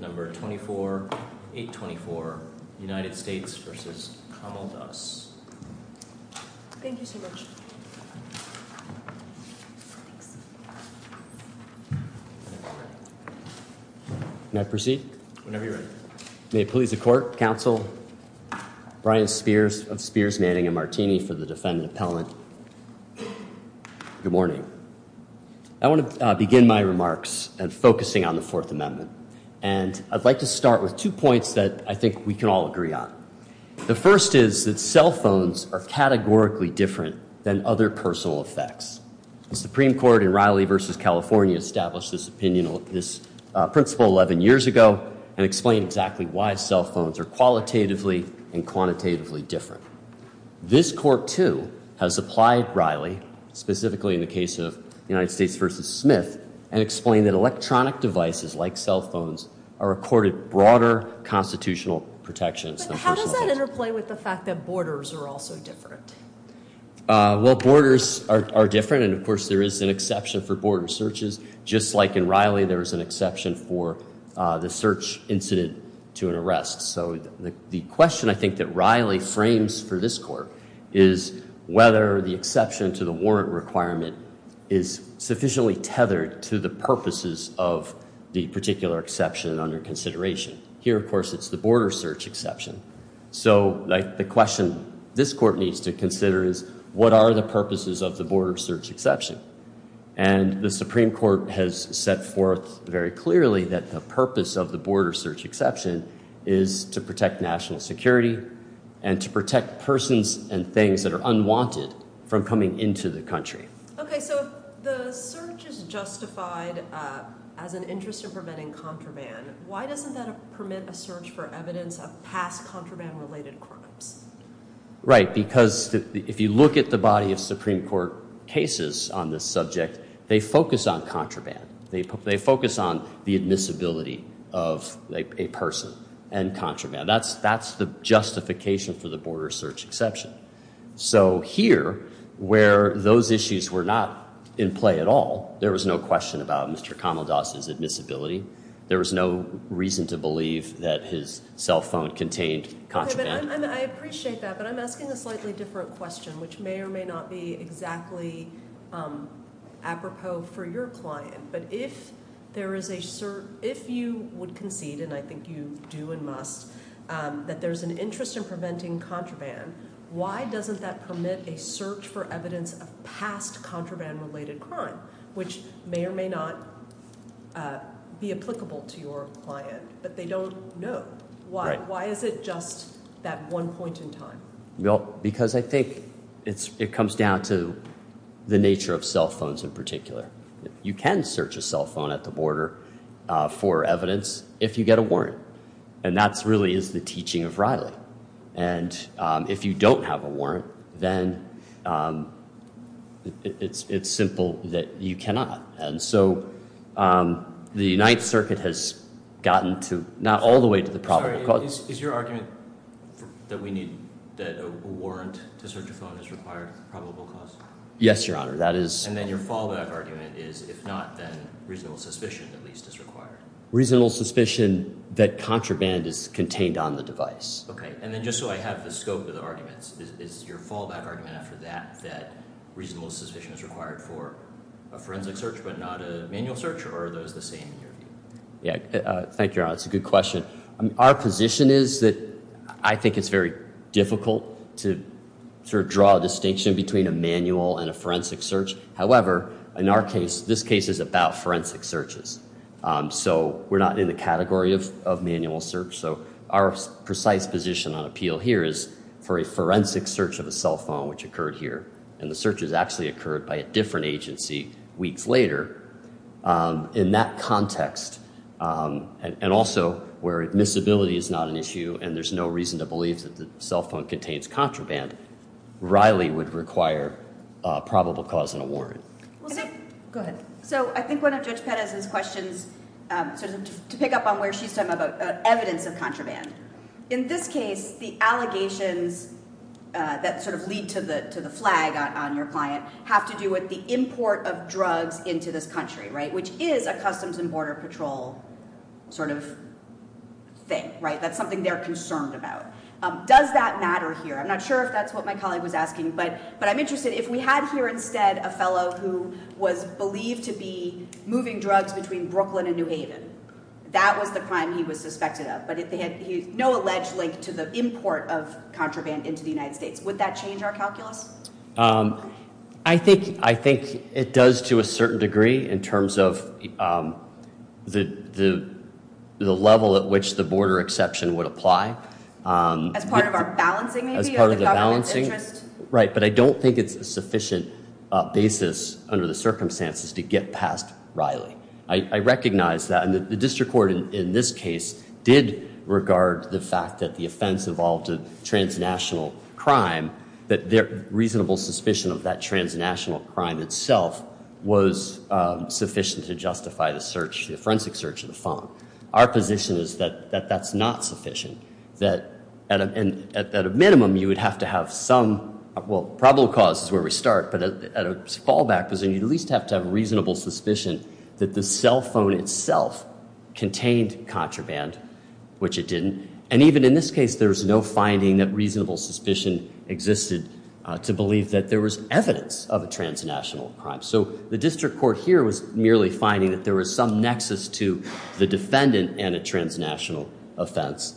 Can I proceed? Whenever you're ready. May it please the court, counsel, Brian Spears of Spears, Manning and Martini for the defendant appellant, good morning. I want to begin my remarks and focusing on the Fourth Amendment. And I'd like to start with two points that I think we can all agree on. The first is that cell phones are categorically different than other personal effects. The Supreme Court in Riley versus California established this opinion on this principle 11 years ago and explain exactly why cell phones are qualitatively and quantitatively different. This court, too, has applied Riley, specifically in the case of the United States versus Smith, and explain that electronic devices like cell phones are recorded broader constitutional protections. How does that interplay with the fact that borders are also different? Well, borders are different. And of course, there is an exception for border searches, just like in Riley, there is an exception for the search incident to an arrest. So the question I think that Riley frames for this court is whether the exception to the warrant requirement is sufficiently tethered to the purposes of the particular exception under consideration. Here, of course, it's the border search exception. So the question this court needs to consider is what are the purposes of the border search exception? And the Supreme Court has set forth very clearly that the purpose of the border search exception is to protect national security and to protect persons and things that are unwanted from coming into the country. Okay, so the search is justified as an interest in preventing contraband. Why doesn't that permit a search for evidence of past contraband-related crimes? Right, because if you look at the body of Supreme Court cases on this subject, they focus on contraband. They focus on the admissibility of a person and contraband. That's the justification for the border search exception. So here, where those issues were not in play at all, there was no question about Mr. Kamaldas' admissibility. There was no reason to believe that his cell phone contained contraband. I appreciate that, but I'm asking a slightly different question, which may or may not be exactly apropos for your client. But if you would concede, and I think you do and must, that there's an interest in preventing contraband, why doesn't that permit a search for evidence of past contraband-related crime, which may or may not be applicable to your client, but they don't know? Why is it just that one point in time? Well, because I think it comes down to the nature of cell phones in particular. You can search a cell phone at the border for evidence if you get a warrant, and that really is the teaching of Riley. And if you don't have a warrant, then it's simple that you cannot. And so the United Circuit has gotten to, not all the way to the probable cause. Is your argument that we need a warrant to search a phone is required for probable cause? Yes, Your Honor, that is. And then your fallback argument is, if not, then reasonable suspicion at least is required. Reasonable suspicion that contraband is contained on the device. Okay, and then just so I have the scope of the arguments, is your fallback argument after that that reasonable suspicion is required for a forensic search but not a manual search, or are those the same in your view? Yeah, thank you, Your Honor. That's a good question. Our position is that I think it's very difficult to sort of draw a distinction between a manual and a forensic search. However, in our case, this case is about forensic searches. So we're not in the category of manual search. So our precise position on appeal here is for a forensic search of a cell phone, which occurred here. And the search has actually occurred by a different agency weeks later. In that context, and also where admissibility is not an issue and there's no reason to believe that the cell phone contains contraband, Riley would require probable cause and a warrant. Go ahead. So I think one of Judge Perez's questions sort of to pick up on where she's talking about evidence of contraband. In this case, the allegations that sort of lead to the flag on your client have to do with the import of drugs into this country, right, which is a Customs and Border Patrol sort of thing, right? That's something they're concerned about. Does that matter here? I'm not sure if that's what my colleague was asking, but I'm interested. If we had here instead a fellow who was believed to be moving drugs between Brooklyn and New Haven, that was the crime he was suspected of. But they had no alleged link to the import of contraband into the United States. Would that change our calculus? I think it does to a certain degree in terms of the level at which the border exception would apply. As part of our balancing, maybe, of the government's interest? Right, but I don't think it's a sufficient basis under the circumstances to get past Riley. I recognize that, and the district court in this case did regard the fact that the offense involved a transnational crime, that their reasonable suspicion of that transnational crime itself was sufficient to justify the search, the forensic search of the phone. Our position is that that's not sufficient. At a minimum, you would have to have some, well, probable cause is where we start, but at a fallback position, you'd at least have to have a reasonable suspicion that the cell phone itself contained contraband, which it didn't. And even in this case, there was no finding that reasonable suspicion existed to believe that there was evidence of a transnational crime. So the district court here was merely finding that there was some nexus to the defendant and a transnational offense,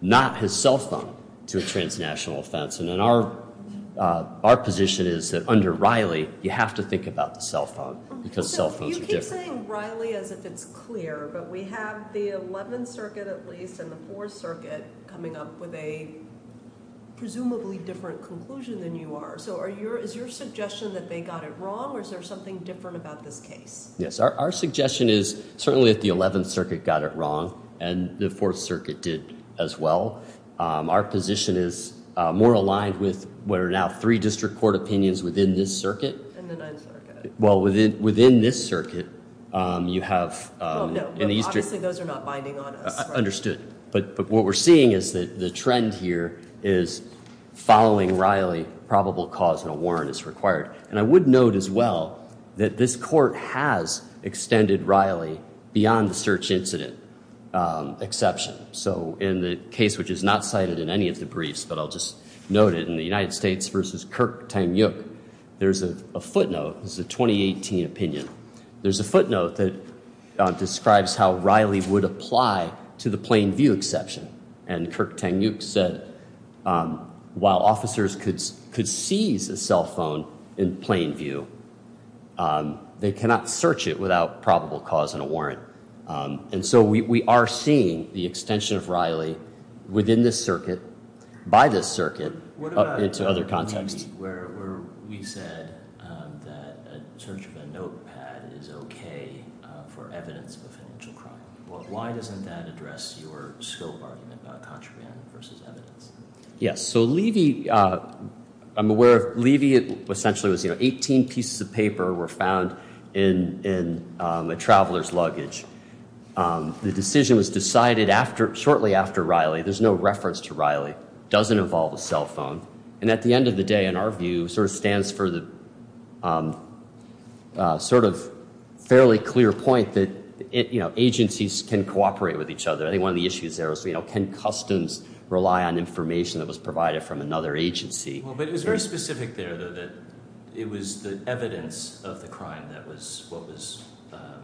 not his cell phone, to a transnational offense. And our position is that under Riley, you have to think about the cell phone because cell phones are different. You keep saying Riley as if it's clear, but we have the 11th Circuit at least and the 4th Circuit coming up with a presumably different conclusion than you are. So is your suggestion that they got it wrong or is there something different about this case? Yes, our suggestion is certainly that the 11th Circuit got it wrong and the 4th Circuit did as well. Our position is more aligned with what are now three district court opinions within this circuit. And the 9th Circuit. Well, within this circuit, you have in the eastern. Well, no, but obviously those are not binding on us. That's understood. But what we're seeing is that the trend here is following Riley, probable cause and a warrant is required. And I would note as well that this court has extended Riley beyond the search incident exception. So in the case which is not cited in any of the briefs, but I'll just note it, in the United States versus Kirk-Tang Yuk, there's a footnote. This is a 2018 opinion. There's a footnote that describes how Riley would apply to the plain view exception. And Kirk-Tang Yuk said while officers could seize a cell phone in plain view, they cannot search it without probable cause and a warrant. And so we are seeing the extension of Riley within this circuit, by this circuit, into other contexts. We said that a search of a notepad is okay for evidence of a financial crime. Why doesn't that address your scope argument about contraband versus evidence? Yes. So Levy, I'm aware of Levy essentially was 18 pieces of paper were found in a traveler's luggage. The decision was decided shortly after Riley. There's no reference to Riley. It doesn't involve a cell phone. And at the end of the day, in our view, sort of stands for the sort of fairly clear point that, you know, agencies can cooperate with each other. I think one of the issues there was, you know, can customs rely on information that was provided from another agency? Well, but it was very specific there, though, that it was the evidence of the crime that was what was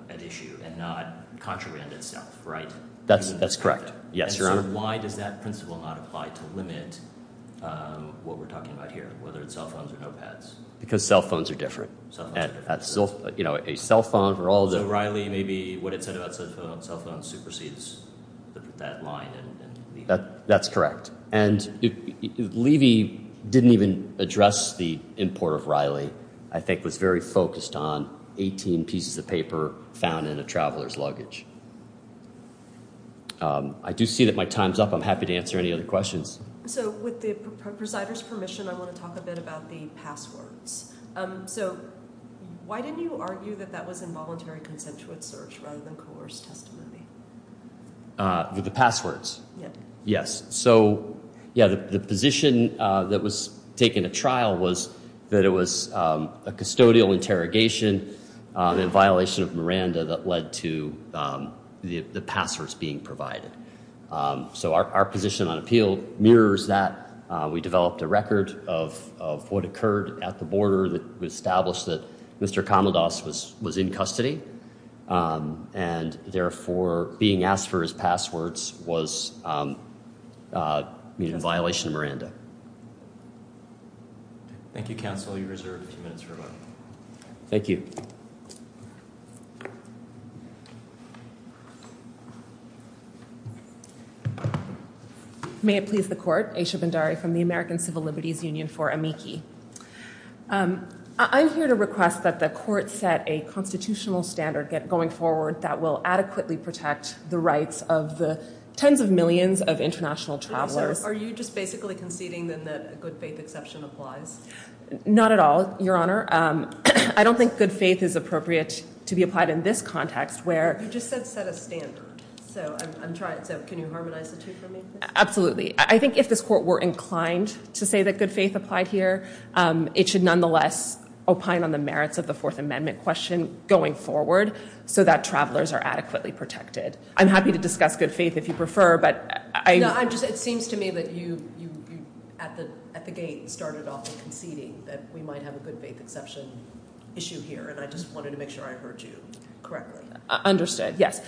at issue and not contraband itself, right? That's correct. Yes, Your Honor. So why does that principle not apply to limit what we're talking about here, whether it's cell phones or notepads? Because cell phones are different. Cell phones are different. You know, a cell phone for all the- So Riley may be what it said about cell phones supersedes that line. That's correct. And Levy didn't even address the import of Riley, I think was very focused on 18 pieces of paper found in a traveler's luggage. I do see that my time's up. I'm happy to answer any other questions. So with the presider's permission, I want to talk a bit about the passwords. So why didn't you argue that that was involuntary consensual search rather than coerced testimony? With the passwords? Yes. So, yeah, the position that was taken at trial was that it was a custodial interrogation in violation of Miranda that led to the passwords being provided. So our position on appeal mirrors that. We developed a record of what occurred at the border that established that Mr. Komendos was in custody. And, therefore, being asked for his passwords was in violation of Miranda. Thank you, counsel. You're reserved a few minutes for rebuttal. Thank you. May it please the court. Aisha Bhandari from the American Civil Liberties Union for AMICI. I'm here to request that the court set a constitutional standard going forward that will adequately protect the rights of the tens of millions of international travelers. Are you just basically conceding then that a good faith exception applies? Not at all, Your Honor. I don't think good faith is appropriate to be applied in this context where- You just said set a standard. So can you harmonize the two for me? Absolutely. I think if this court were inclined to say that good faith applied here, it should nonetheless opine on the merits of the Fourth Amendment question going forward so that travelers are adequately protected. I'm happy to discuss good faith if you prefer, but I- It seems to me that you at the gate started off with conceding that we might have a good faith exception issue here, and I just wanted to make sure I heard you correctly. Understood, yes.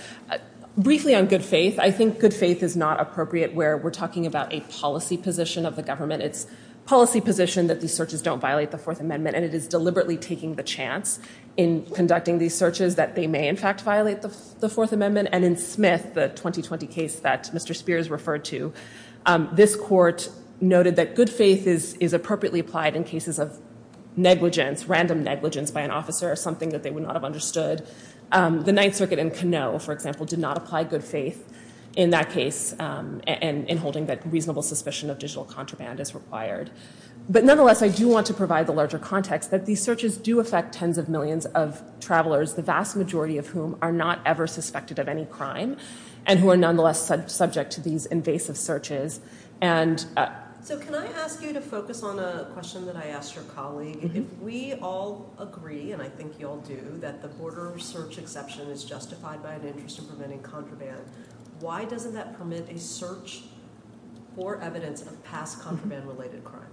Briefly on good faith, I think good faith is not appropriate where we're talking about a policy position of the government. It's policy position that these searches don't violate the Fourth Amendment, and it is deliberately taking the chance in conducting these searches that they may, in fact, violate the Fourth Amendment. And in Smith, the 2020 case that Mr. Spears referred to, this court noted that good faith is appropriately applied in cases of negligence, random negligence by an officer or something that they would not have understood. The Ninth Circuit in Canoe, for example, did not apply good faith in that case in holding that reasonable suspicion of digital contraband is required. But nonetheless, I do want to provide the larger context that these searches do affect tens of millions of travelers, the vast majority of whom are not ever suspected of any crime, and who are nonetheless subject to these invasive searches. So can I ask you to focus on a question that I asked your colleague? If we all agree, and I think you all do, that the border search exception is justified by an interest in preventing contraband, why doesn't that permit a search for evidence of past contraband-related crime?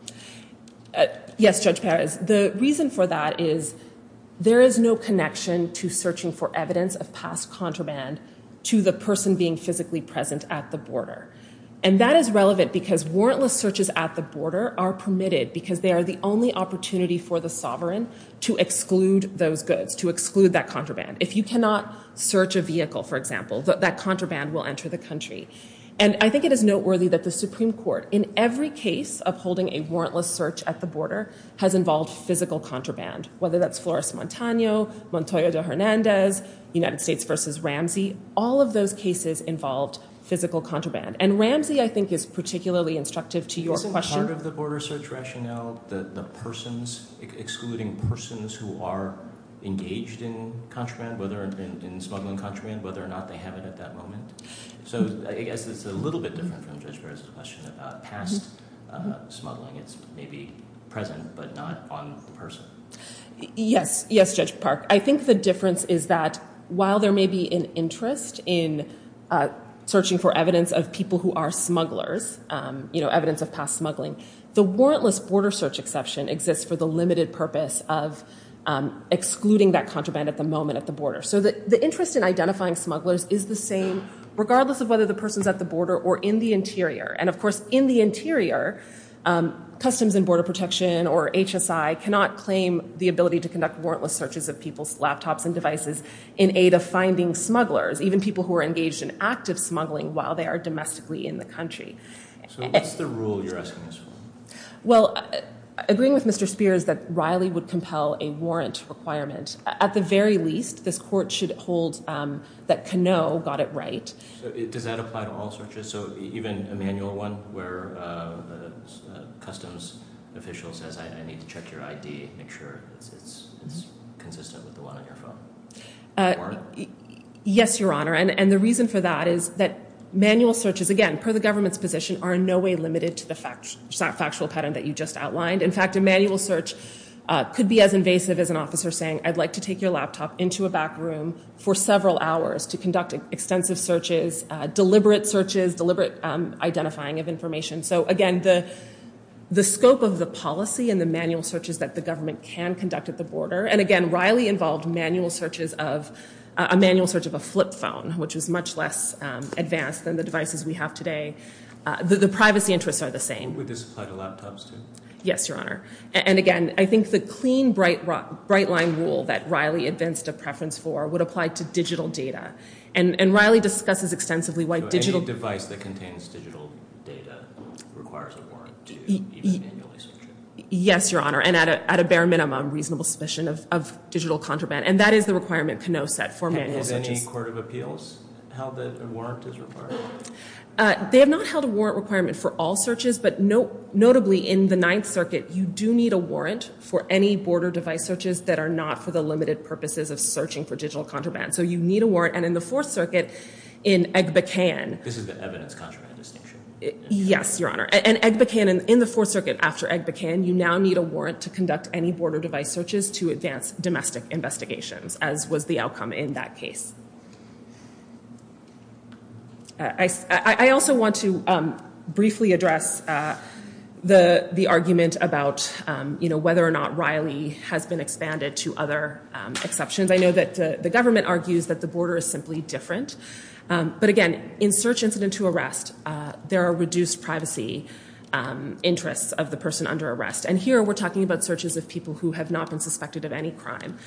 Yes, Judge Perez. The reason for that is there is no connection to searching for evidence of past contraband to the person being physically present at the border. And that is relevant because warrantless searches at the border are permitted because they are the only opportunity for the sovereign to exclude those goods, to exclude that contraband. If you cannot search a vehicle, for example, that contraband will enter the country. And I think it is noteworthy that the Supreme Court, in every case of holding a warrantless search at the border, has involved physical contraband, whether that's Flores-Montano, Montoya de Hernandez, United States v. Ramsey, all of those cases involved physical contraband. And Ramsey, I think, is particularly instructive to your question. Isn't part of the border search rationale the persons, excluding persons who are engaged in contraband, whether in smuggling contraband, whether or not they have it at that moment? So I guess it's a little bit different from Judge Perez's question about past smuggling. It's maybe present but not on the person. Yes. Yes, Judge Park. I think the difference is that while there may be an interest in searching for evidence of people who are smugglers, evidence of past smuggling, the warrantless border search exception exists for the limited purpose of excluding that contraband at the moment at the border. So the interest in identifying smugglers is the same regardless of whether the person's at the border or in the interior. And, of course, in the interior, Customs and Border Protection or HSI cannot claim the ability to conduct warrantless searches of people's laptops and devices in aid of finding smugglers, even people who are engaged in active smuggling while they are domestically in the country. So what's the rule you're asking us for? Well, agreeing with Mr. Speer is that Riley would compel a warrant requirement. At the very least, this court should hold that Canoe got it right. Does that apply to all searches? So even a manual one where the customs official says, I need to check your ID, make sure it's consistent with the one on your phone? Yes, Your Honor. And the reason for that is that manual searches, again, per the government's position, are in no way limited to the factual pattern that you just outlined. In fact, a manual search could be as invasive as an officer saying, I'd like to take your laptop into a back room for several hours to conduct extensive searches, deliberate searches, deliberate identifying of information. So again, the scope of the policy and the manual searches that the government can conduct at the border. And again, Riley involved a manual search of a flip phone, which is much less advanced than the devices we have today. The privacy interests are the same. Would this apply to laptops, too? Yes, Your Honor. And again, I think the clean bright line rule that Riley advanced a preference for would apply to digital data. And Riley discusses extensively why digital data requires a warrant to even manually search it. Yes, Your Honor. And at a bare minimum, reasonable submission of digital contraband. And that is the requirement Kano set for manual searches. Has any court of appeals held that a warrant is required? They have not held a warrant requirement for all searches. But notably, in the Ninth Circuit, you do need a warrant for any border device searches that are not for the limited purposes of searching for digital contraband. So you need a warrant. And in the Fourth Circuit, in Egbekan. This is the evidence contraband distinction. Yes, Your Honor. And Egbekan, in the Fourth Circuit after Egbekan, you now need a warrant to conduct any border device searches to advance domestic investigations, as was the outcome in that case. I also want to briefly address the argument about whether or not Riley has been expanded to other exceptions. I know that the government argues that the border is simply different. But again, in search incident to arrest, there are reduced privacy interests of the person under arrest. And here, we're talking about searches of people who have not been suspected of any crime.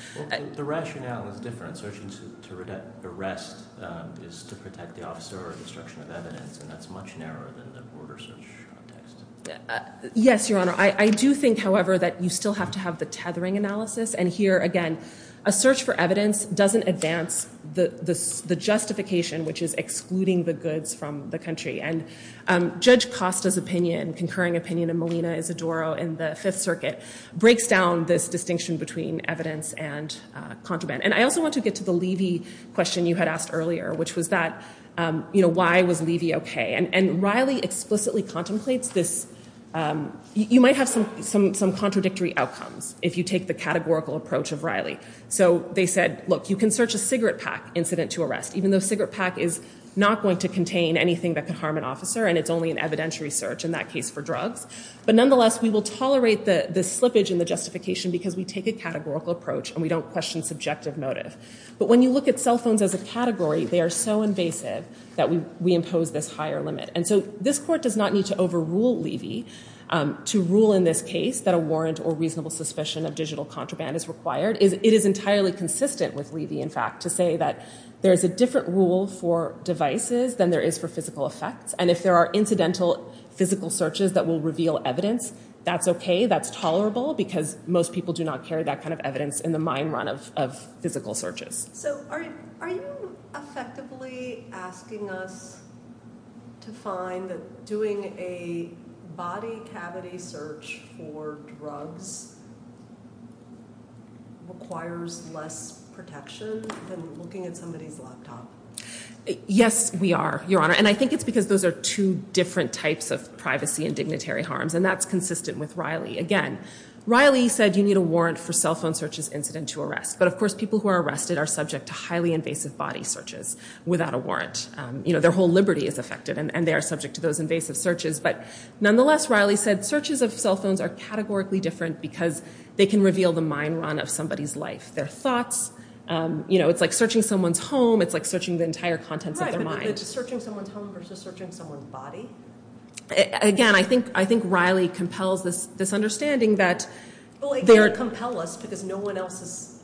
The rationale is different. Search incident to arrest is to protect the officer or destruction of evidence. And that's much narrower than the border search context. Yes, Your Honor. I do think, however, that you still have to have the tethering analysis. And here, again, a search for evidence doesn't advance the justification, which is excluding the goods from the country. And Judge Costa's opinion, concurring opinion of Molina Isidoro in the Fifth Circuit, breaks down this distinction between evidence and contraband. And I also want to get to the Levy question you had asked earlier, which was that, you know, why was Levy okay? And Riley explicitly contemplates this. You might have some contradictory outcomes if you take the categorical approach of Riley. So they said, look, you can search a cigarette pack incident to arrest, even though cigarette pack is not going to contain anything that could harm an officer, and it's only an evidentiary search, in that case, for drugs. But nonetheless, we will tolerate the slippage in the justification because we take a categorical approach and we don't question subjective motive. But when you look at cell phones as a category, they are so invasive that we impose this higher limit. And so this court does not need to overrule Levy to rule in this case that a warrant or reasonable suspicion of digital contraband is required. It is entirely consistent with Levy, in fact, to say that there is a different rule for devices than there is for physical effects. And if there are incidental physical searches that will reveal evidence, that's okay. That's tolerable because most people do not carry that kind of evidence in the mine run of physical searches. So are you effectively asking us to find that doing a body cavity search for drugs requires less protection than looking at somebody's laptop? Yes, we are, Your Honor. And I think it's because those are two different types of privacy and dignitary harms, and that's consistent with Riley. Again, Riley said you need a warrant for cell phone searches incident to arrest. But, of course, people who are arrested are subject to highly invasive body searches without a warrant. You know, their whole liberty is affected, and they are subject to those invasive searches. But nonetheless, Riley said searches of cell phones are categorically different because they can reveal the mine run of somebody's life, their thoughts. You know, it's like searching someone's home. It's like searching the entire contents of their mind. It's like searching someone's home versus searching someone's body. Again, I think Riley compels this understanding that they're— Well, they don't compel us because no one else has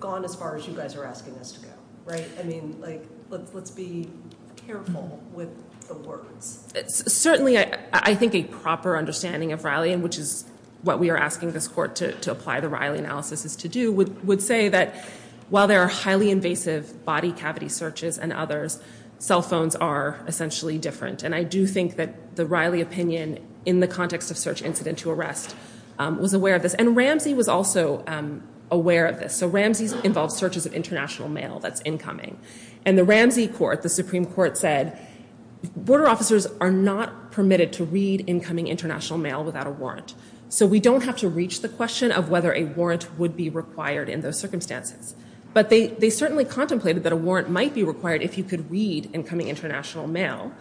gone as far as you guys are asking us to go, right? I mean, like, let's be careful with the words. Certainly, I think a proper understanding of Riley, and which is what we are asking this court to apply the Riley analysis to do, would say that while there are highly invasive body cavity searches and others, cell phones are essentially different. And I do think that the Riley opinion in the context of search incident to arrest was aware of this. And Ramsey was also aware of this. So Ramsey's involved searches of international mail that's incoming. And the Ramsey court, the Supreme Court, said border officers are not permitted to read incoming international mail without a warrant. So we don't have to reach the question of whether a warrant would be required in those circumstances. But they certainly contemplated that a warrant might be required if you could read incoming international mail.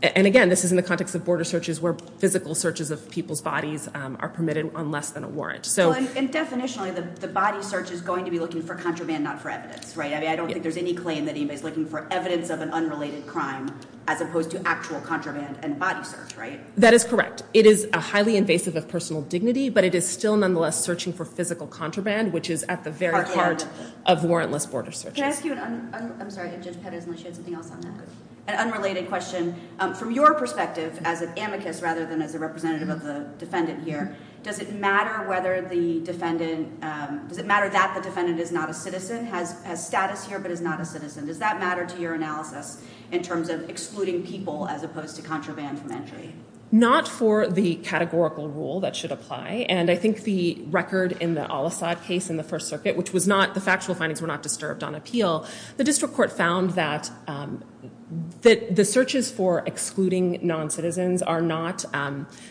And again, this is in the context of border searches where physical searches of people's bodies are permitted on less than a warrant. So— Well, and definitionally, the body search is going to be looking for contraband, not for evidence, right? I mean, I don't think there's any claim that anybody's looking for evidence of an unrelated crime as opposed to actual contraband and body search, right? That is correct. It is a highly invasive of personal dignity, but it is still nonetheless searching for physical contraband, which is at the very heart of warrantless border searches. Can I ask you an—I'm sorry, if Judge Petterson will shed something else on that. An unrelated question. From your perspective as an amicus rather than as a representative of the defendant here, does it matter whether the defendant— does it matter that the defendant is not a citizen, has status here but is not a citizen? Does that matter to your analysis in terms of excluding people as opposed to contraband from entry? Not for the categorical rule that should apply. And I think the record in the Al-Assad case in the First Circuit, which was not—the factual findings were not disturbed on appeal. The district court found that the searches for excluding non-citizens are not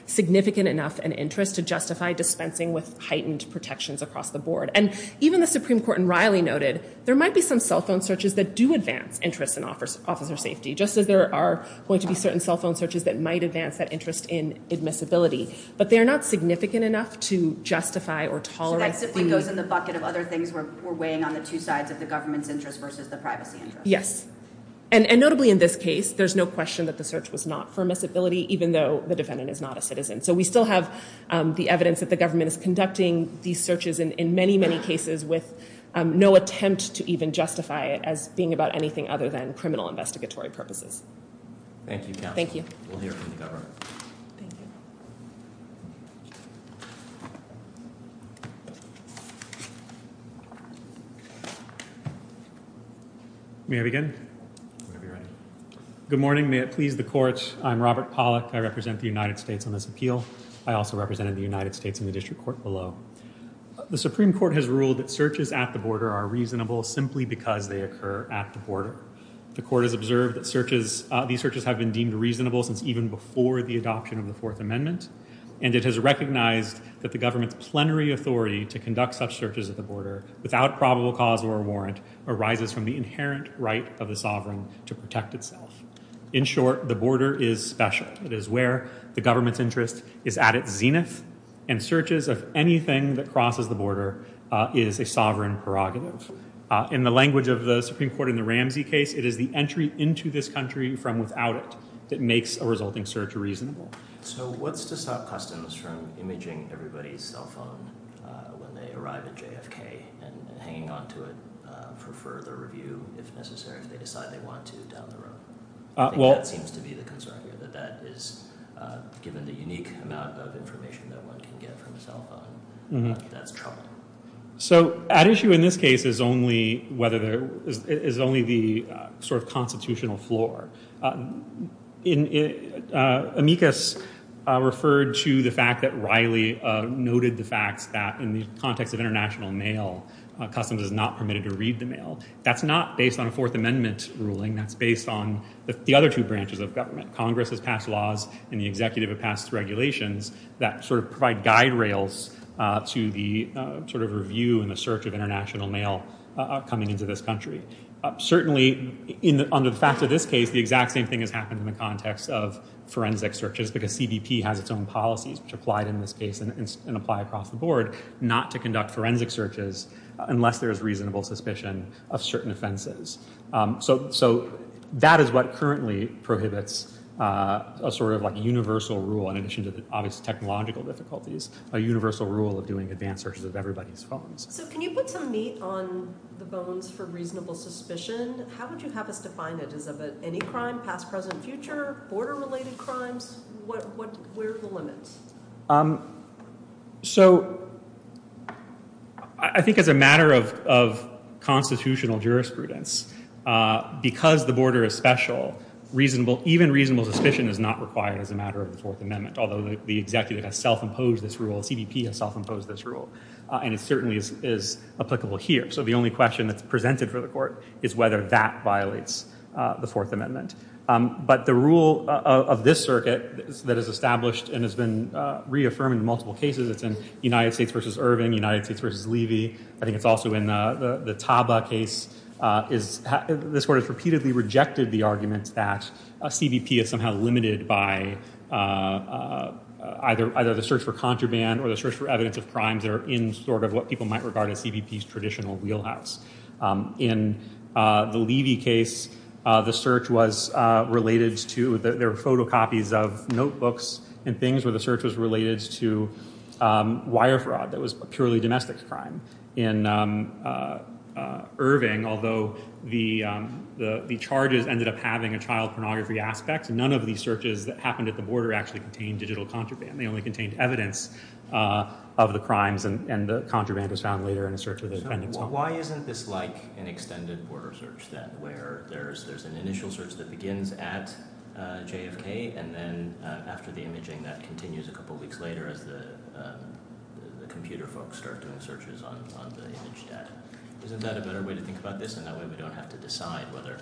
significant enough an interest to justify dispensing with heightened protections across the board. And even the Supreme Court in Riley noted there might be some cell phone searches that do advance interest in officer safety, just as there are going to be certain cell phone searches that might advance that interest in admissibility. But they are not significant enough to justify or tolerate— So that simply goes in the bucket of other things we're weighing on the two sides of the government's interest versus the privacy interest. Yes. And notably in this case, there's no question that the search was not for admissibility, even though the defendant is not a citizen. So we still have the evidence that the government is conducting these searches in many, many cases with no attempt to even justify it as being about anything other than criminal investigatory purposes. Thank you, counsel. Thank you. We'll hear from the government. Thank you. May I begin? Whenever you're ready. Good morning. May it please the court. I'm Robert Pollack. I represent the United States on this appeal. I also represented the United States in the district court below. The Supreme Court has ruled that searches at the border are reasonable simply because they occur at the border. The court has observed that searches—these searches have been deemed reasonable since even before the adoption of the Fourth Amendment. And it has recognized that the government's plenary authority to conduct such searches at the border without probable cause or warrant arises from the inherent right of the sovereign to protect itself. In short, the border is special. It is where the government's interest is at its zenith, and searches of anything that crosses the border is a sovereign prerogative. In the language of the Supreme Court in the Ramsey case, it is the entry into this country from without it that makes a resulting search reasonable. So what's to stop customs from imaging everybody's cell phone when they arrive at JFK and hanging onto it for further review, if necessary, if they decide they want to down the road? I think that seems to be the concern here, that that is—given the unique amount of information that one can get from a cell phone, that's trouble. So at issue in this case is only whether there—is only the sort of constitutional floor. Amicus referred to the fact that Riley noted the facts that in the context of international mail, customs is not permitted to read the mail. That's not based on a Fourth Amendment ruling. That's based on the other two branches of government. Congress has passed laws, and the executive has passed regulations that sort of provide guide rails to the sort of review and the search of international mail coming into this country. Certainly, under the fact of this case, the exact same thing has happened in the context of forensic searches, because CBP has its own policies, which applied in this case and apply across the board, not to conduct forensic searches unless there is reasonable suspicion of certain offenses. So that is what currently prohibits a sort of universal rule, in addition to the obvious technological difficulties, a universal rule of doing advanced searches of everybody's phones. So can you put some meat on the bones for reasonable suspicion? How would you have us define it? Is it about any crime, past, present, future, border-related crimes? Where are the limits? So I think as a matter of constitutional jurisprudence, because the border is special, even reasonable suspicion is not required as a matter of the Fourth Amendment, although the executive has self-imposed this rule, CBP has self-imposed this rule, and it certainly is applicable here. So the only question that's presented for the Court is whether that violates the Fourth Amendment. But the rule of this circuit that is established and has been reaffirmed in multiple cases, it's in United States v. Irving, United States v. Levy, I think it's also in the Taba case, this Court has repeatedly rejected the argument that CBP is somehow limited by either the search for contraband or the search for evidence of crimes that are in sort of what people might regard as CBP's traditional wheelhouse. In the Levy case, the search was related to, there were photocopies of notebooks and things, where the search was related to wire fraud that was purely domestic crime. In Irving, although the charges ended up having a child pornography aspect, none of these searches that happened at the border actually contained digital contraband. They only contained evidence of the crimes, and the contraband was found later in a search of the defendant's home. So why isn't this like an extended border search then, where there's an initial search that begins at JFK, and then after the imaging that continues a couple weeks later as the computer folks start doing searches on the image data? Isn't that a better way to think about this? And that way we don't have to decide whether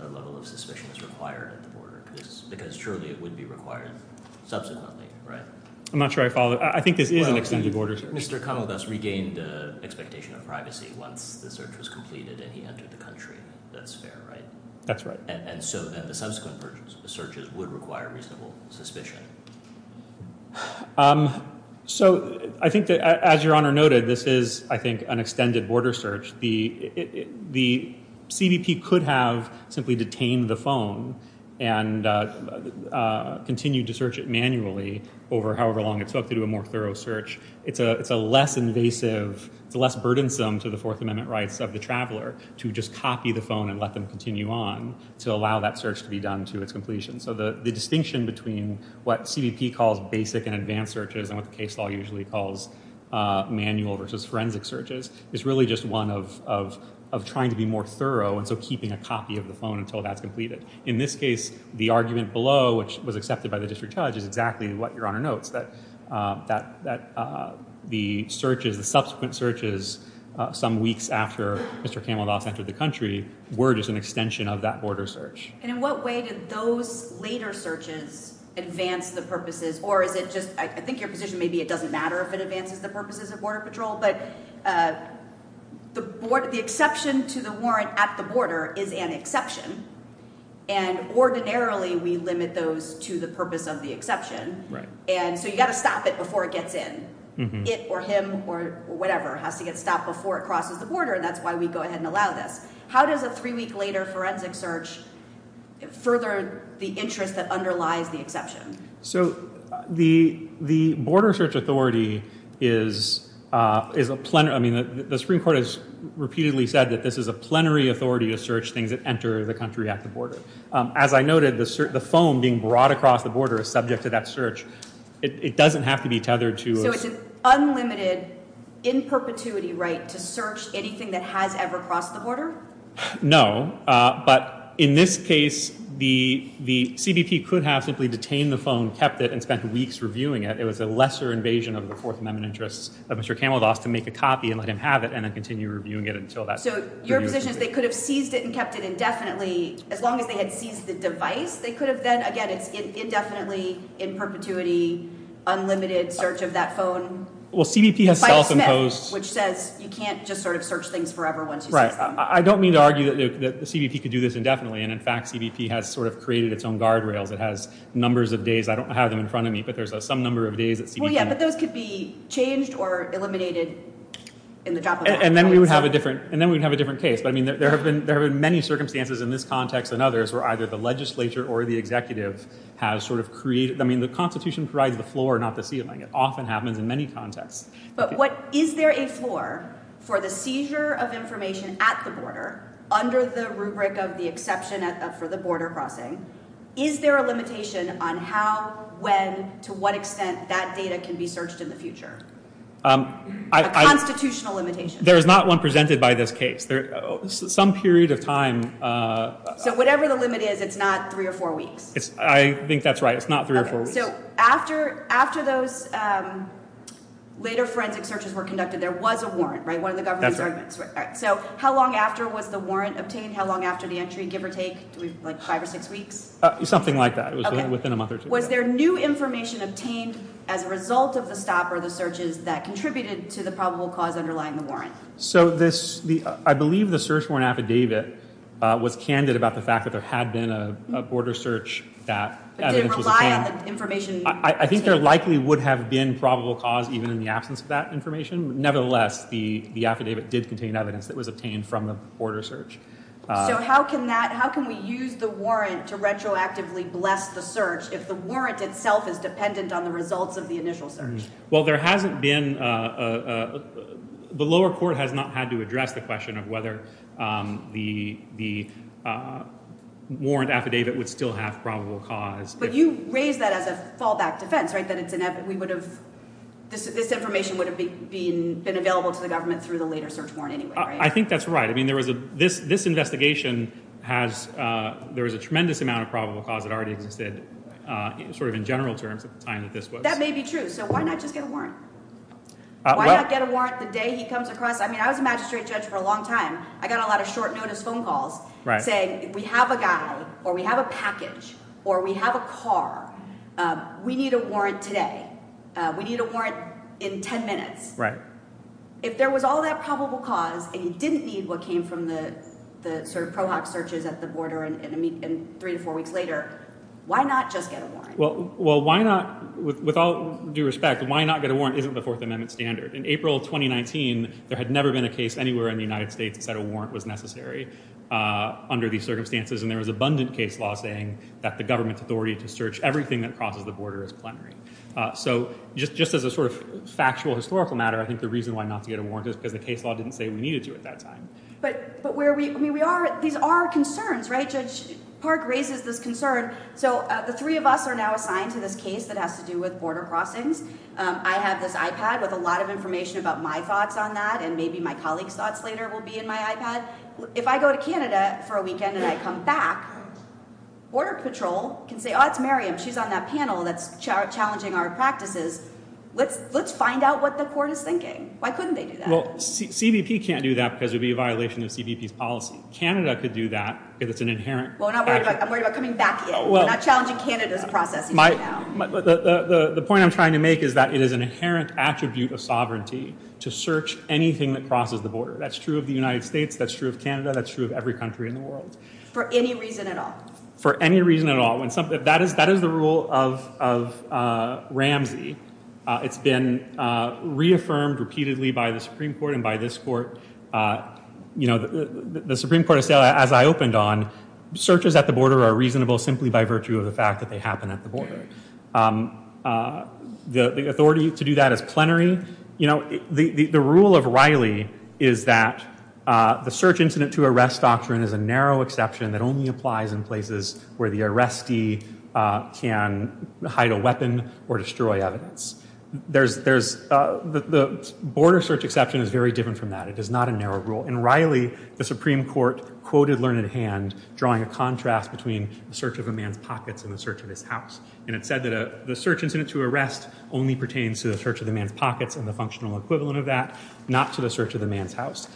a level of suspicion is required at the border, because surely it would be required subsequently, right? I'm not sure I follow. I think this is an extended border search. Well, Mr. Conaldus regained expectation of privacy once the search was completed and he entered the country. That's fair, right? That's right. And so then the subsequent searches would require reasonable suspicion. So I think that, as Your Honor noted, this is, I think, an extended border search. The CBP could have simply detained the phone and continued to search it manually over however long it took to do a more thorough search. It's a less invasive, it's less burdensome to the Fourth Amendment rights of the traveler to just copy the phone and let them continue on. To allow that search to be done to its completion. So the distinction between what CBP calls basic and advanced searches and what the case law usually calls manual versus forensic searches is really just one of trying to be more thorough and so keeping a copy of the phone until that's completed. In this case, the argument below, which was accepted by the district judge, is exactly what Your Honor notes. That the searches, the subsequent searches, some weeks after Mr. Conaldus entered the country were just an extension of that border search. And in what way did those later searches advance the purposes, or is it just, I think your position may be it doesn't matter if it advances the purposes of Border Patrol, but the exception to the warrant at the border is an exception and ordinarily we limit those to the purpose of the exception. Right. And so you've got to stop it before it gets in. It or him or whatever has to get stopped before it crosses the border and that's why we go ahead and allow this. How does a three week later forensic search further the interest that underlies the exception? So the border search authority is a plenary, I mean the Supreme Court has repeatedly said that this is a plenary authority to search things that enter the country at the border. As I noted, the phone being brought across the border is subject to that search. It doesn't have to be tethered to- So it's an unlimited, in perpetuity right to search anything that has ever crossed the border? No, but in this case, the CBP could have simply detained the phone, kept it, and spent weeks reviewing it. It was a lesser invasion of the Fourth Amendment interests of Mr. Conaldus to make a copy and let him have it and then continue reviewing it until that- So your position is they could have seized it and kept it indefinitely as long as they had seized the device? They could have then, again, it's indefinitely, in perpetuity, unlimited search of that phone? Well CBP has self-imposed- Which says you can't just sort of search things forever once you seize them. Right. I don't mean to argue that the CBP could do this indefinitely and in fact CBP has sort of created its own guardrails. It has numbers of days, I don't have them in front of me, but there's some number of days that CBP- Well yeah, but those could be changed or eliminated in the drop of a hat. And then we would have a different case, but there have been many circumstances in this context and others where either the legislature or the executive has sort of created- I mean the Constitution provides the floor, not the ceiling. It often happens in many contexts. But is there a floor for the seizure of information at the border under the rubric of the exception for the border crossing? Is there a limitation on how, when, to what extent that data can be searched in the future? A constitutional limitation. There is not one presented by this case. Some period of time- So whatever the limit is, it's not three or four weeks? I think that's right. It's not three or four weeks. So after those later forensic searches were conducted, there was a warrant, right? One of the government's arguments. So how long after was the warrant obtained? How long after the entry, give or take, like five or six weeks? Something like that. It was within a month or two. Was there new information obtained as a result of the stop or the searches that contributed to the probable cause underlying the warrant? So I believe the search warrant affidavit was candid about the fact that there had been a border search that evidence was obtained. But did it rely on the information obtained? I think there likely would have been probable cause even in the absence of that information. Nevertheless, the affidavit did contain evidence that was obtained from the border search. So how can we use the warrant to retroactively bless the search if the warrant itself is dependent on the results of the initial search? Well, there hasn't been- the lower court has not had to address the question of whether the warrant affidavit would still have probable cause. But you raised that as a fallback defense, right? That this information would have been available to the government through the later search warrant anyway, right? I think that's right. I mean, this investigation has- there was a tremendous amount of probable cause that already existed sort of in general terms at the time that this was. That may be true. So why not just get a warrant? Why not get a warrant the day he comes across- I mean, I was a magistrate judge for a long time. I got a lot of short notice phone calls saying if we have a guy or we have a package or we have a car, we need a warrant today. We need a warrant in ten minutes. Right. If there was all that probable cause and you didn't need what came from the sort of pro hoc searches at the border and three to four weeks later, why not just get a warrant? Well, why not- with all due respect, why not get a warrant isn't the Fourth Amendment standard. In April 2019, there had never been a case anywhere in the United States that said a warrant was necessary under these circumstances. And there was abundant case law saying that the government's authority to search everything that crosses the border is preliminary. So just as a sort of factual historical matter, I think the reason why not to get a warrant is because the case law didn't say we needed to at that time. But where we- I mean, we are- these are concerns, right? Judge Park raises this concern. So the three of us are now assigned to this case that has to do with border crossings. I have this iPad with a lot of information about my thoughts on that and maybe my colleague's thoughts later will be in my iPad. But if I go to Canada for a weekend and I come back, Border Patrol can say, oh, it's Miriam. She's on that panel that's challenging our practices. Let's find out what the court is thinking. Why couldn't they do that? Well, CBP can't do that because it would be a violation of CBP's policy. Canada could do that because it's an inherent- Well, I'm not worried about coming back yet. I'm not challenging Canada's process right now. The point I'm trying to make is that it is an inherent attribute of sovereignty to search anything that crosses the border. That's true of the United States. That's true of Canada. That's true of every country in the world. For any reason at all? For any reason at all. That is the rule of Ramsey. It's been reaffirmed repeatedly by the Supreme Court and by this court. You know, the Supreme Court has said, as I opened on, searches at the border are reasonable simply by virtue of the fact that they happen at the border. The authority to do that is plenary. The rule of Riley is that the search incident to arrest doctrine is a narrow exception that only applies in places where the arrestee can hide a weapon or destroy evidence. The border search exception is very different from that. It is not a narrow rule. In Riley, the Supreme Court quoted Learned Hand, drawing a contrast between the search of a man's pockets and the search of his house. And it said that the search incident to arrest only pertains to the search of the man's pockets and the functional equivalent of that, not to the search of the man's house.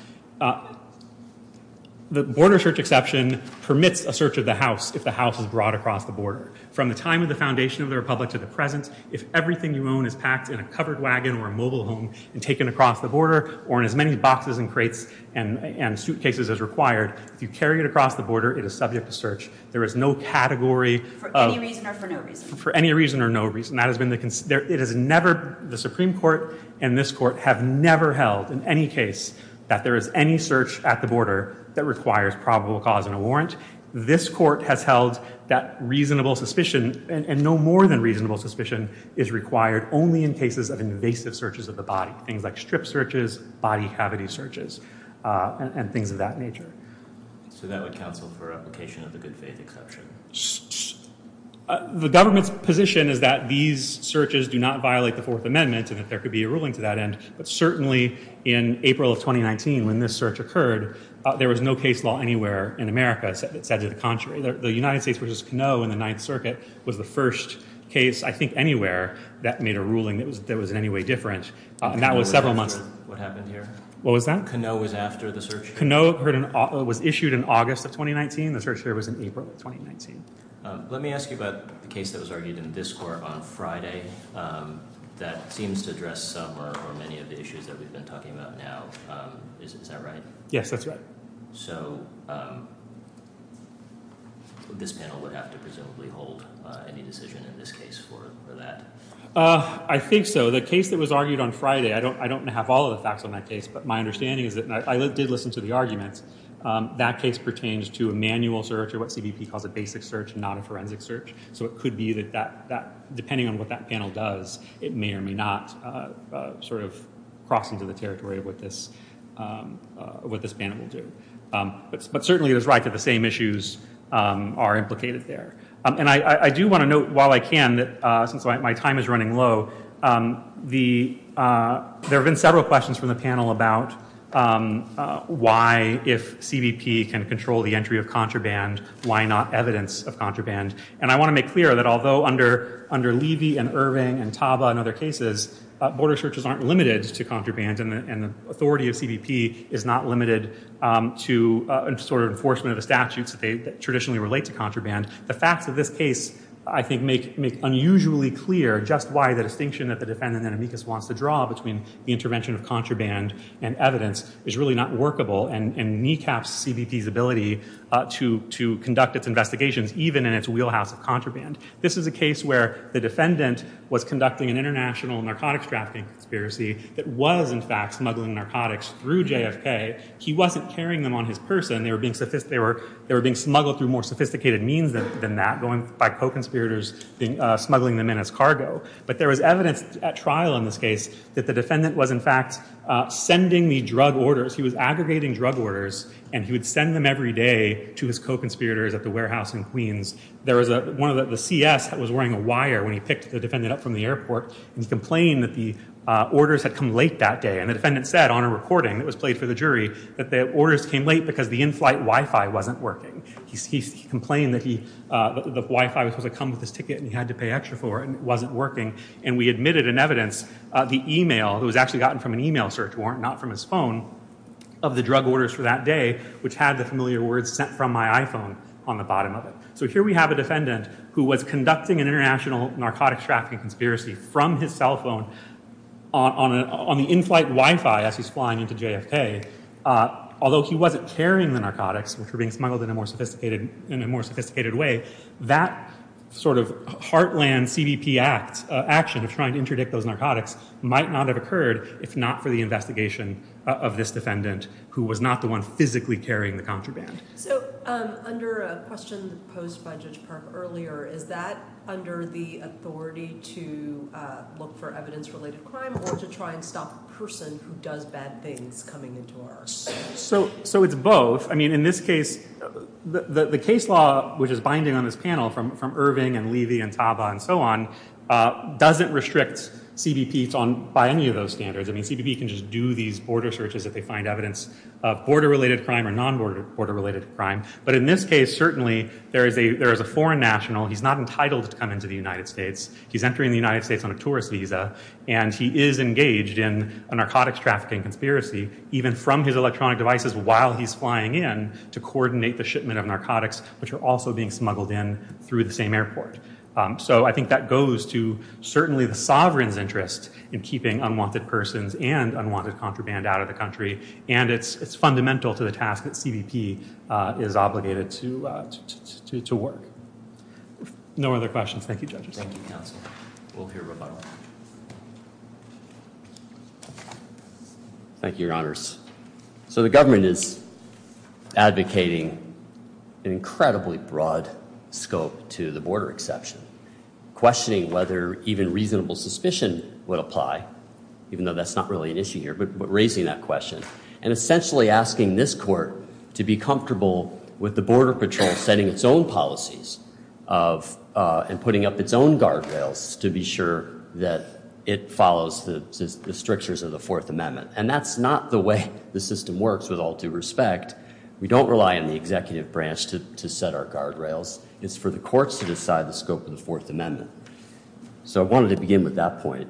The border search exception permits a search of the house if the house is brought across the border. From the time of the foundation of the Republic to the present, if everything you own is packed in a covered wagon or a mobile home and taken across the border, or in as many boxes and crates and suitcases as required, if you carry it across the border, it is subject to search. There is no category of— For any reason or for no reason? For any reason or no reason. That has been the—it has never—the Supreme Court and this Court have never held in any case that there is any search at the border that requires probable cause and a warrant. This Court has held that reasonable suspicion, and no more than reasonable suspicion, is required only in cases of invasive searches of the body, things like strip searches, body cavity searches, and things of that nature. So that would counsel for application of the good faith exception? The government's position is that these searches do not violate the Fourth Amendment and that there could be a ruling to that end, but certainly in April of 2019, when this search occurred, there was no case law anywhere in America that said to the contrary. The United States v. Canoe in the Ninth Circuit was the first case, I think, anywhere that made a ruling that was in any way different. Canoe was after what happened here? What was that? Canoe was after the search? Canoe was issued in August of 2019. The search here was in April of 2019. Let me ask you about the case that was argued in this Court on Friday that seems to address some or many of the issues that we've been talking about now. Is that right? Yes, that's right. So this panel would have to presumably hold any decision in this case for that? I think so. So the case that was argued on Friday, I don't have all of the facts on that case, but my understanding is that I did listen to the arguments. That case pertains to a manual search or what CBP calls a basic search, not a forensic search. So it could be that depending on what that panel does, it may or may not sort of cross into the territory of what this panel will do. But certainly it is right that the same issues are implicated there. And I do want to note, while I can, since my time is running low, there have been several questions from the panel about why, if CBP can control the entry of contraband, why not evidence of contraband. And I want to make clear that although under Levy and Irving and Taba and other cases, border searches aren't limited to contraband, and the authority of CBP is not limited to sort of enforcement of the statutes that traditionally relate to contraband. The facts of this case, I think, make unusually clear just why the distinction that the defendant in amicus wants to draw between the intervention of contraband and evidence is really not workable and kneecaps CBP's ability to conduct its investigations even in its wheelhouse of contraband. This is a case where the defendant was conducting an international narcotics trafficking conspiracy that was, in fact, smuggling narcotics through JFK. He wasn't carrying them on his person. They were being smuggled through more sophisticated means than that, by co-conspirators smuggling them in as cargo. But there was evidence at trial in this case that the defendant was, in fact, sending the drug orders. He was aggregating drug orders, and he would send them every day to his co-conspirators at the warehouse in Queens. There was one of the CS that was wearing a wire when he picked the defendant up from the airport, and he complained that the orders had come late that day. And the defendant said on a recording that was played for the jury that the orders came late because the in-flight Wi-Fi wasn't working. He complained that the Wi-Fi was supposed to come with his ticket, and he had to pay extra for it, and it wasn't working. And we admitted in evidence the email that was actually gotten from an email search warrant, not from his phone, of the drug orders for that day, which had the familiar words sent from my iPhone on the bottom of it. So here we have a defendant who was conducting an international narcotics trafficking conspiracy from his cell phone on the in-flight Wi-Fi as he's flying into JFK. Although he wasn't carrying the narcotics, which were being smuggled in a more sophisticated way, that sort of heartland CBP action of trying to interdict those narcotics might not have occurred if not for the investigation of this defendant, who was not the one physically carrying the contraband. So under a question posed by Judge Park earlier, is that under the authority to look for evidence-related crime or to try and stop the person who does bad things coming into our office? So it's both. I mean, in this case, the case law, which is binding on this panel from Irving and Levy and Taba and so on, doesn't restrict CBP by any of those standards. I mean, CBP can just do these border searches if they find evidence of border-related crime or non-border-related crime. But in this case, certainly, there is a foreign national. He's not entitled to come into the United States. He's entering the United States on a tourist visa, and he is engaged in a narcotics trafficking conspiracy, even from his electronic devices while he's flying in to coordinate the shipment of narcotics, which are also being smuggled in through the same airport. So I think that goes to certainly the sovereign's interest in keeping unwanted persons and unwanted contraband out of the country, and it's fundamental to the task that CBP is obligated to work. No other questions. Thank you, judges. Thank you, counsel. We'll hear a rebuttal. Thank you, your honors. So the government is advocating an incredibly broad scope to the border exception, questioning whether even reasonable suspicion would apply, even though that's not really an issue here, but raising that question and essentially asking this court to be comfortable with the Border Patrol setting its own policies and putting up its own guardrails to be sure that it follows the strictures of the Fourth Amendment. And that's not the way the system works, with all due respect. We don't rely on the executive branch to set our guardrails. It's for the courts to decide the scope of the Fourth Amendment. So I wanted to begin with that point.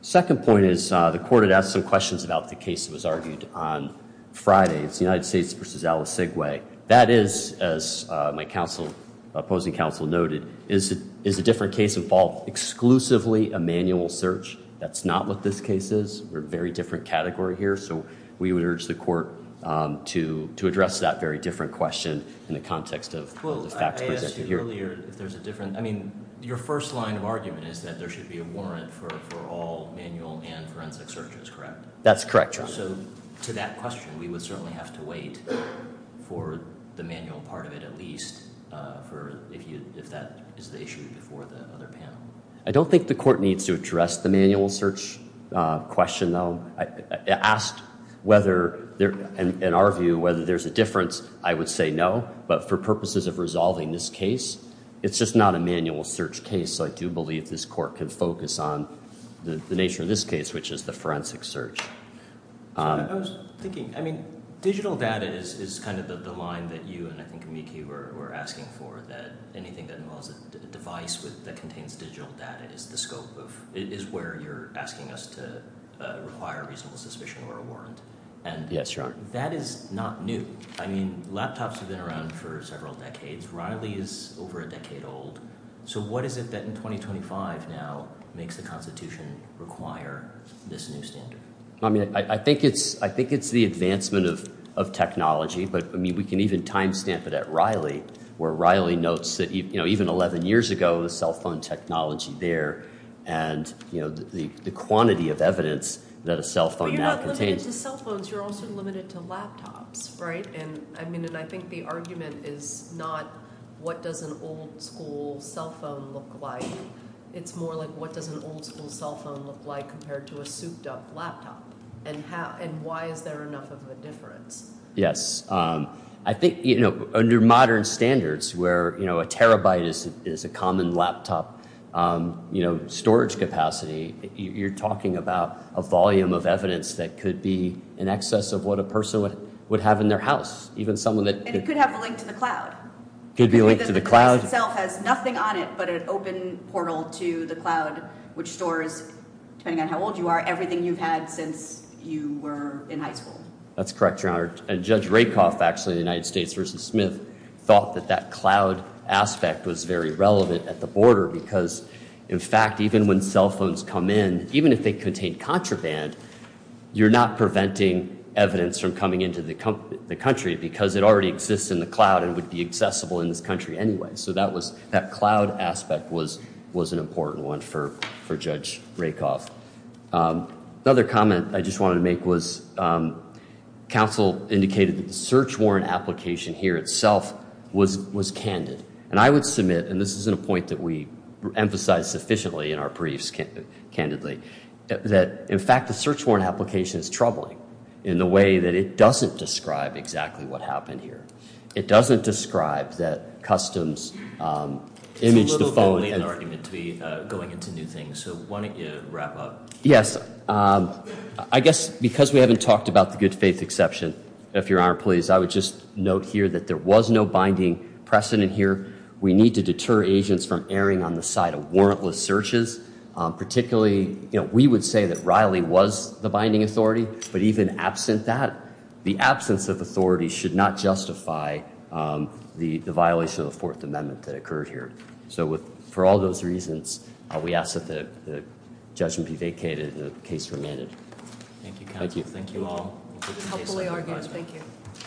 The second point is the court had asked some questions about the case that was argued on Friday. It's the United States v. Alice Segway. That is, as my opposing counsel noted, is a different case involved exclusively a manual search. That's not what this case is. We're a very different category here. So we would urge the court to address that very different question in the context of the facts presented here. Well, I asked you earlier if there's a different – I mean, your first line of argument is that there should be a warrant for all manual and forensic searches, correct? That's correct, your honors. So to that question, we would certainly have to wait for the manual part of it at least, if that is the issue before the other panel. I don't think the court needs to address the manual search question, though. Asked whether – in our view, whether there's a difference, I would say no. But for purposes of resolving this case, it's just not a manual search case. So I do believe this court can focus on the nature of this case, which is the forensic search. I was thinking – I mean, digital data is kind of the line that you and I think Miki were asking for, that anything that involves a device that contains digital data is the scope of – is where you're asking us to require reasonable suspicion or a warrant. Yes, your honor. That is not new. I mean, laptops have been around for several decades. Riley is over a decade old. So what is it that in 2025 now makes the Constitution require this new standard? I mean, I think it's the advancement of technology. But, I mean, we can even timestamp it at Riley, where Riley notes that even 11 years ago, the cell phone technology there and the quantity of evidence that a cell phone now contains. But you're not limited to cell phones. You're also limited to laptops, right? And I mean – and I think the argument is not what does an old-school cell phone look like. It's more like what does an old-school cell phone look like compared to a souped-up laptop? And why is there enough of a difference? Yes. I think, you know, under modern standards where, you know, a terabyte is a common laptop, you know, storage capacity, you're talking about a volume of evidence that could be in excess of what a person would have in their house. Even someone that – And it could have a link to the cloud. Could be linked to the cloud. The device itself has nothing on it but an open portal to the cloud, which stores, depending on how old you are, everything you've had since you were in high school. That's correct, Your Honor. And Judge Rakoff, actually, of the United States v. Smith, thought that that cloud aspect was very relevant at the border because, in fact, even when cell phones come in, even if they contain contraband, you're not preventing evidence from coming into the country because it already exists in the cloud and would be accessible in this country anyway. So that was – that cloud aspect was an important one for Judge Rakoff. Another comment I just wanted to make was counsel indicated that the search warrant application here itself was candid. And I would submit – and this isn't a point that we emphasize sufficiently in our briefs candidly – that, in fact, the search warrant application is troubling in the way that it doesn't describe exactly what happened here. It doesn't describe that customs imaged the phone and – Yes. I guess because we haven't talked about the good faith exception, if Your Honor, please, I would just note here that there was no binding precedent here. We need to deter agents from erring on the side of warrantless searches. Particularly, you know, we would say that Riley was the binding authority. But even absent that, the absence of authority should not justify the violation of the Fourth Amendment that occurred here. So for all those reasons, we ask that the judgment be vacated and the case remanded. Thank you, counsel. Thank you. Thank you all. Thank you.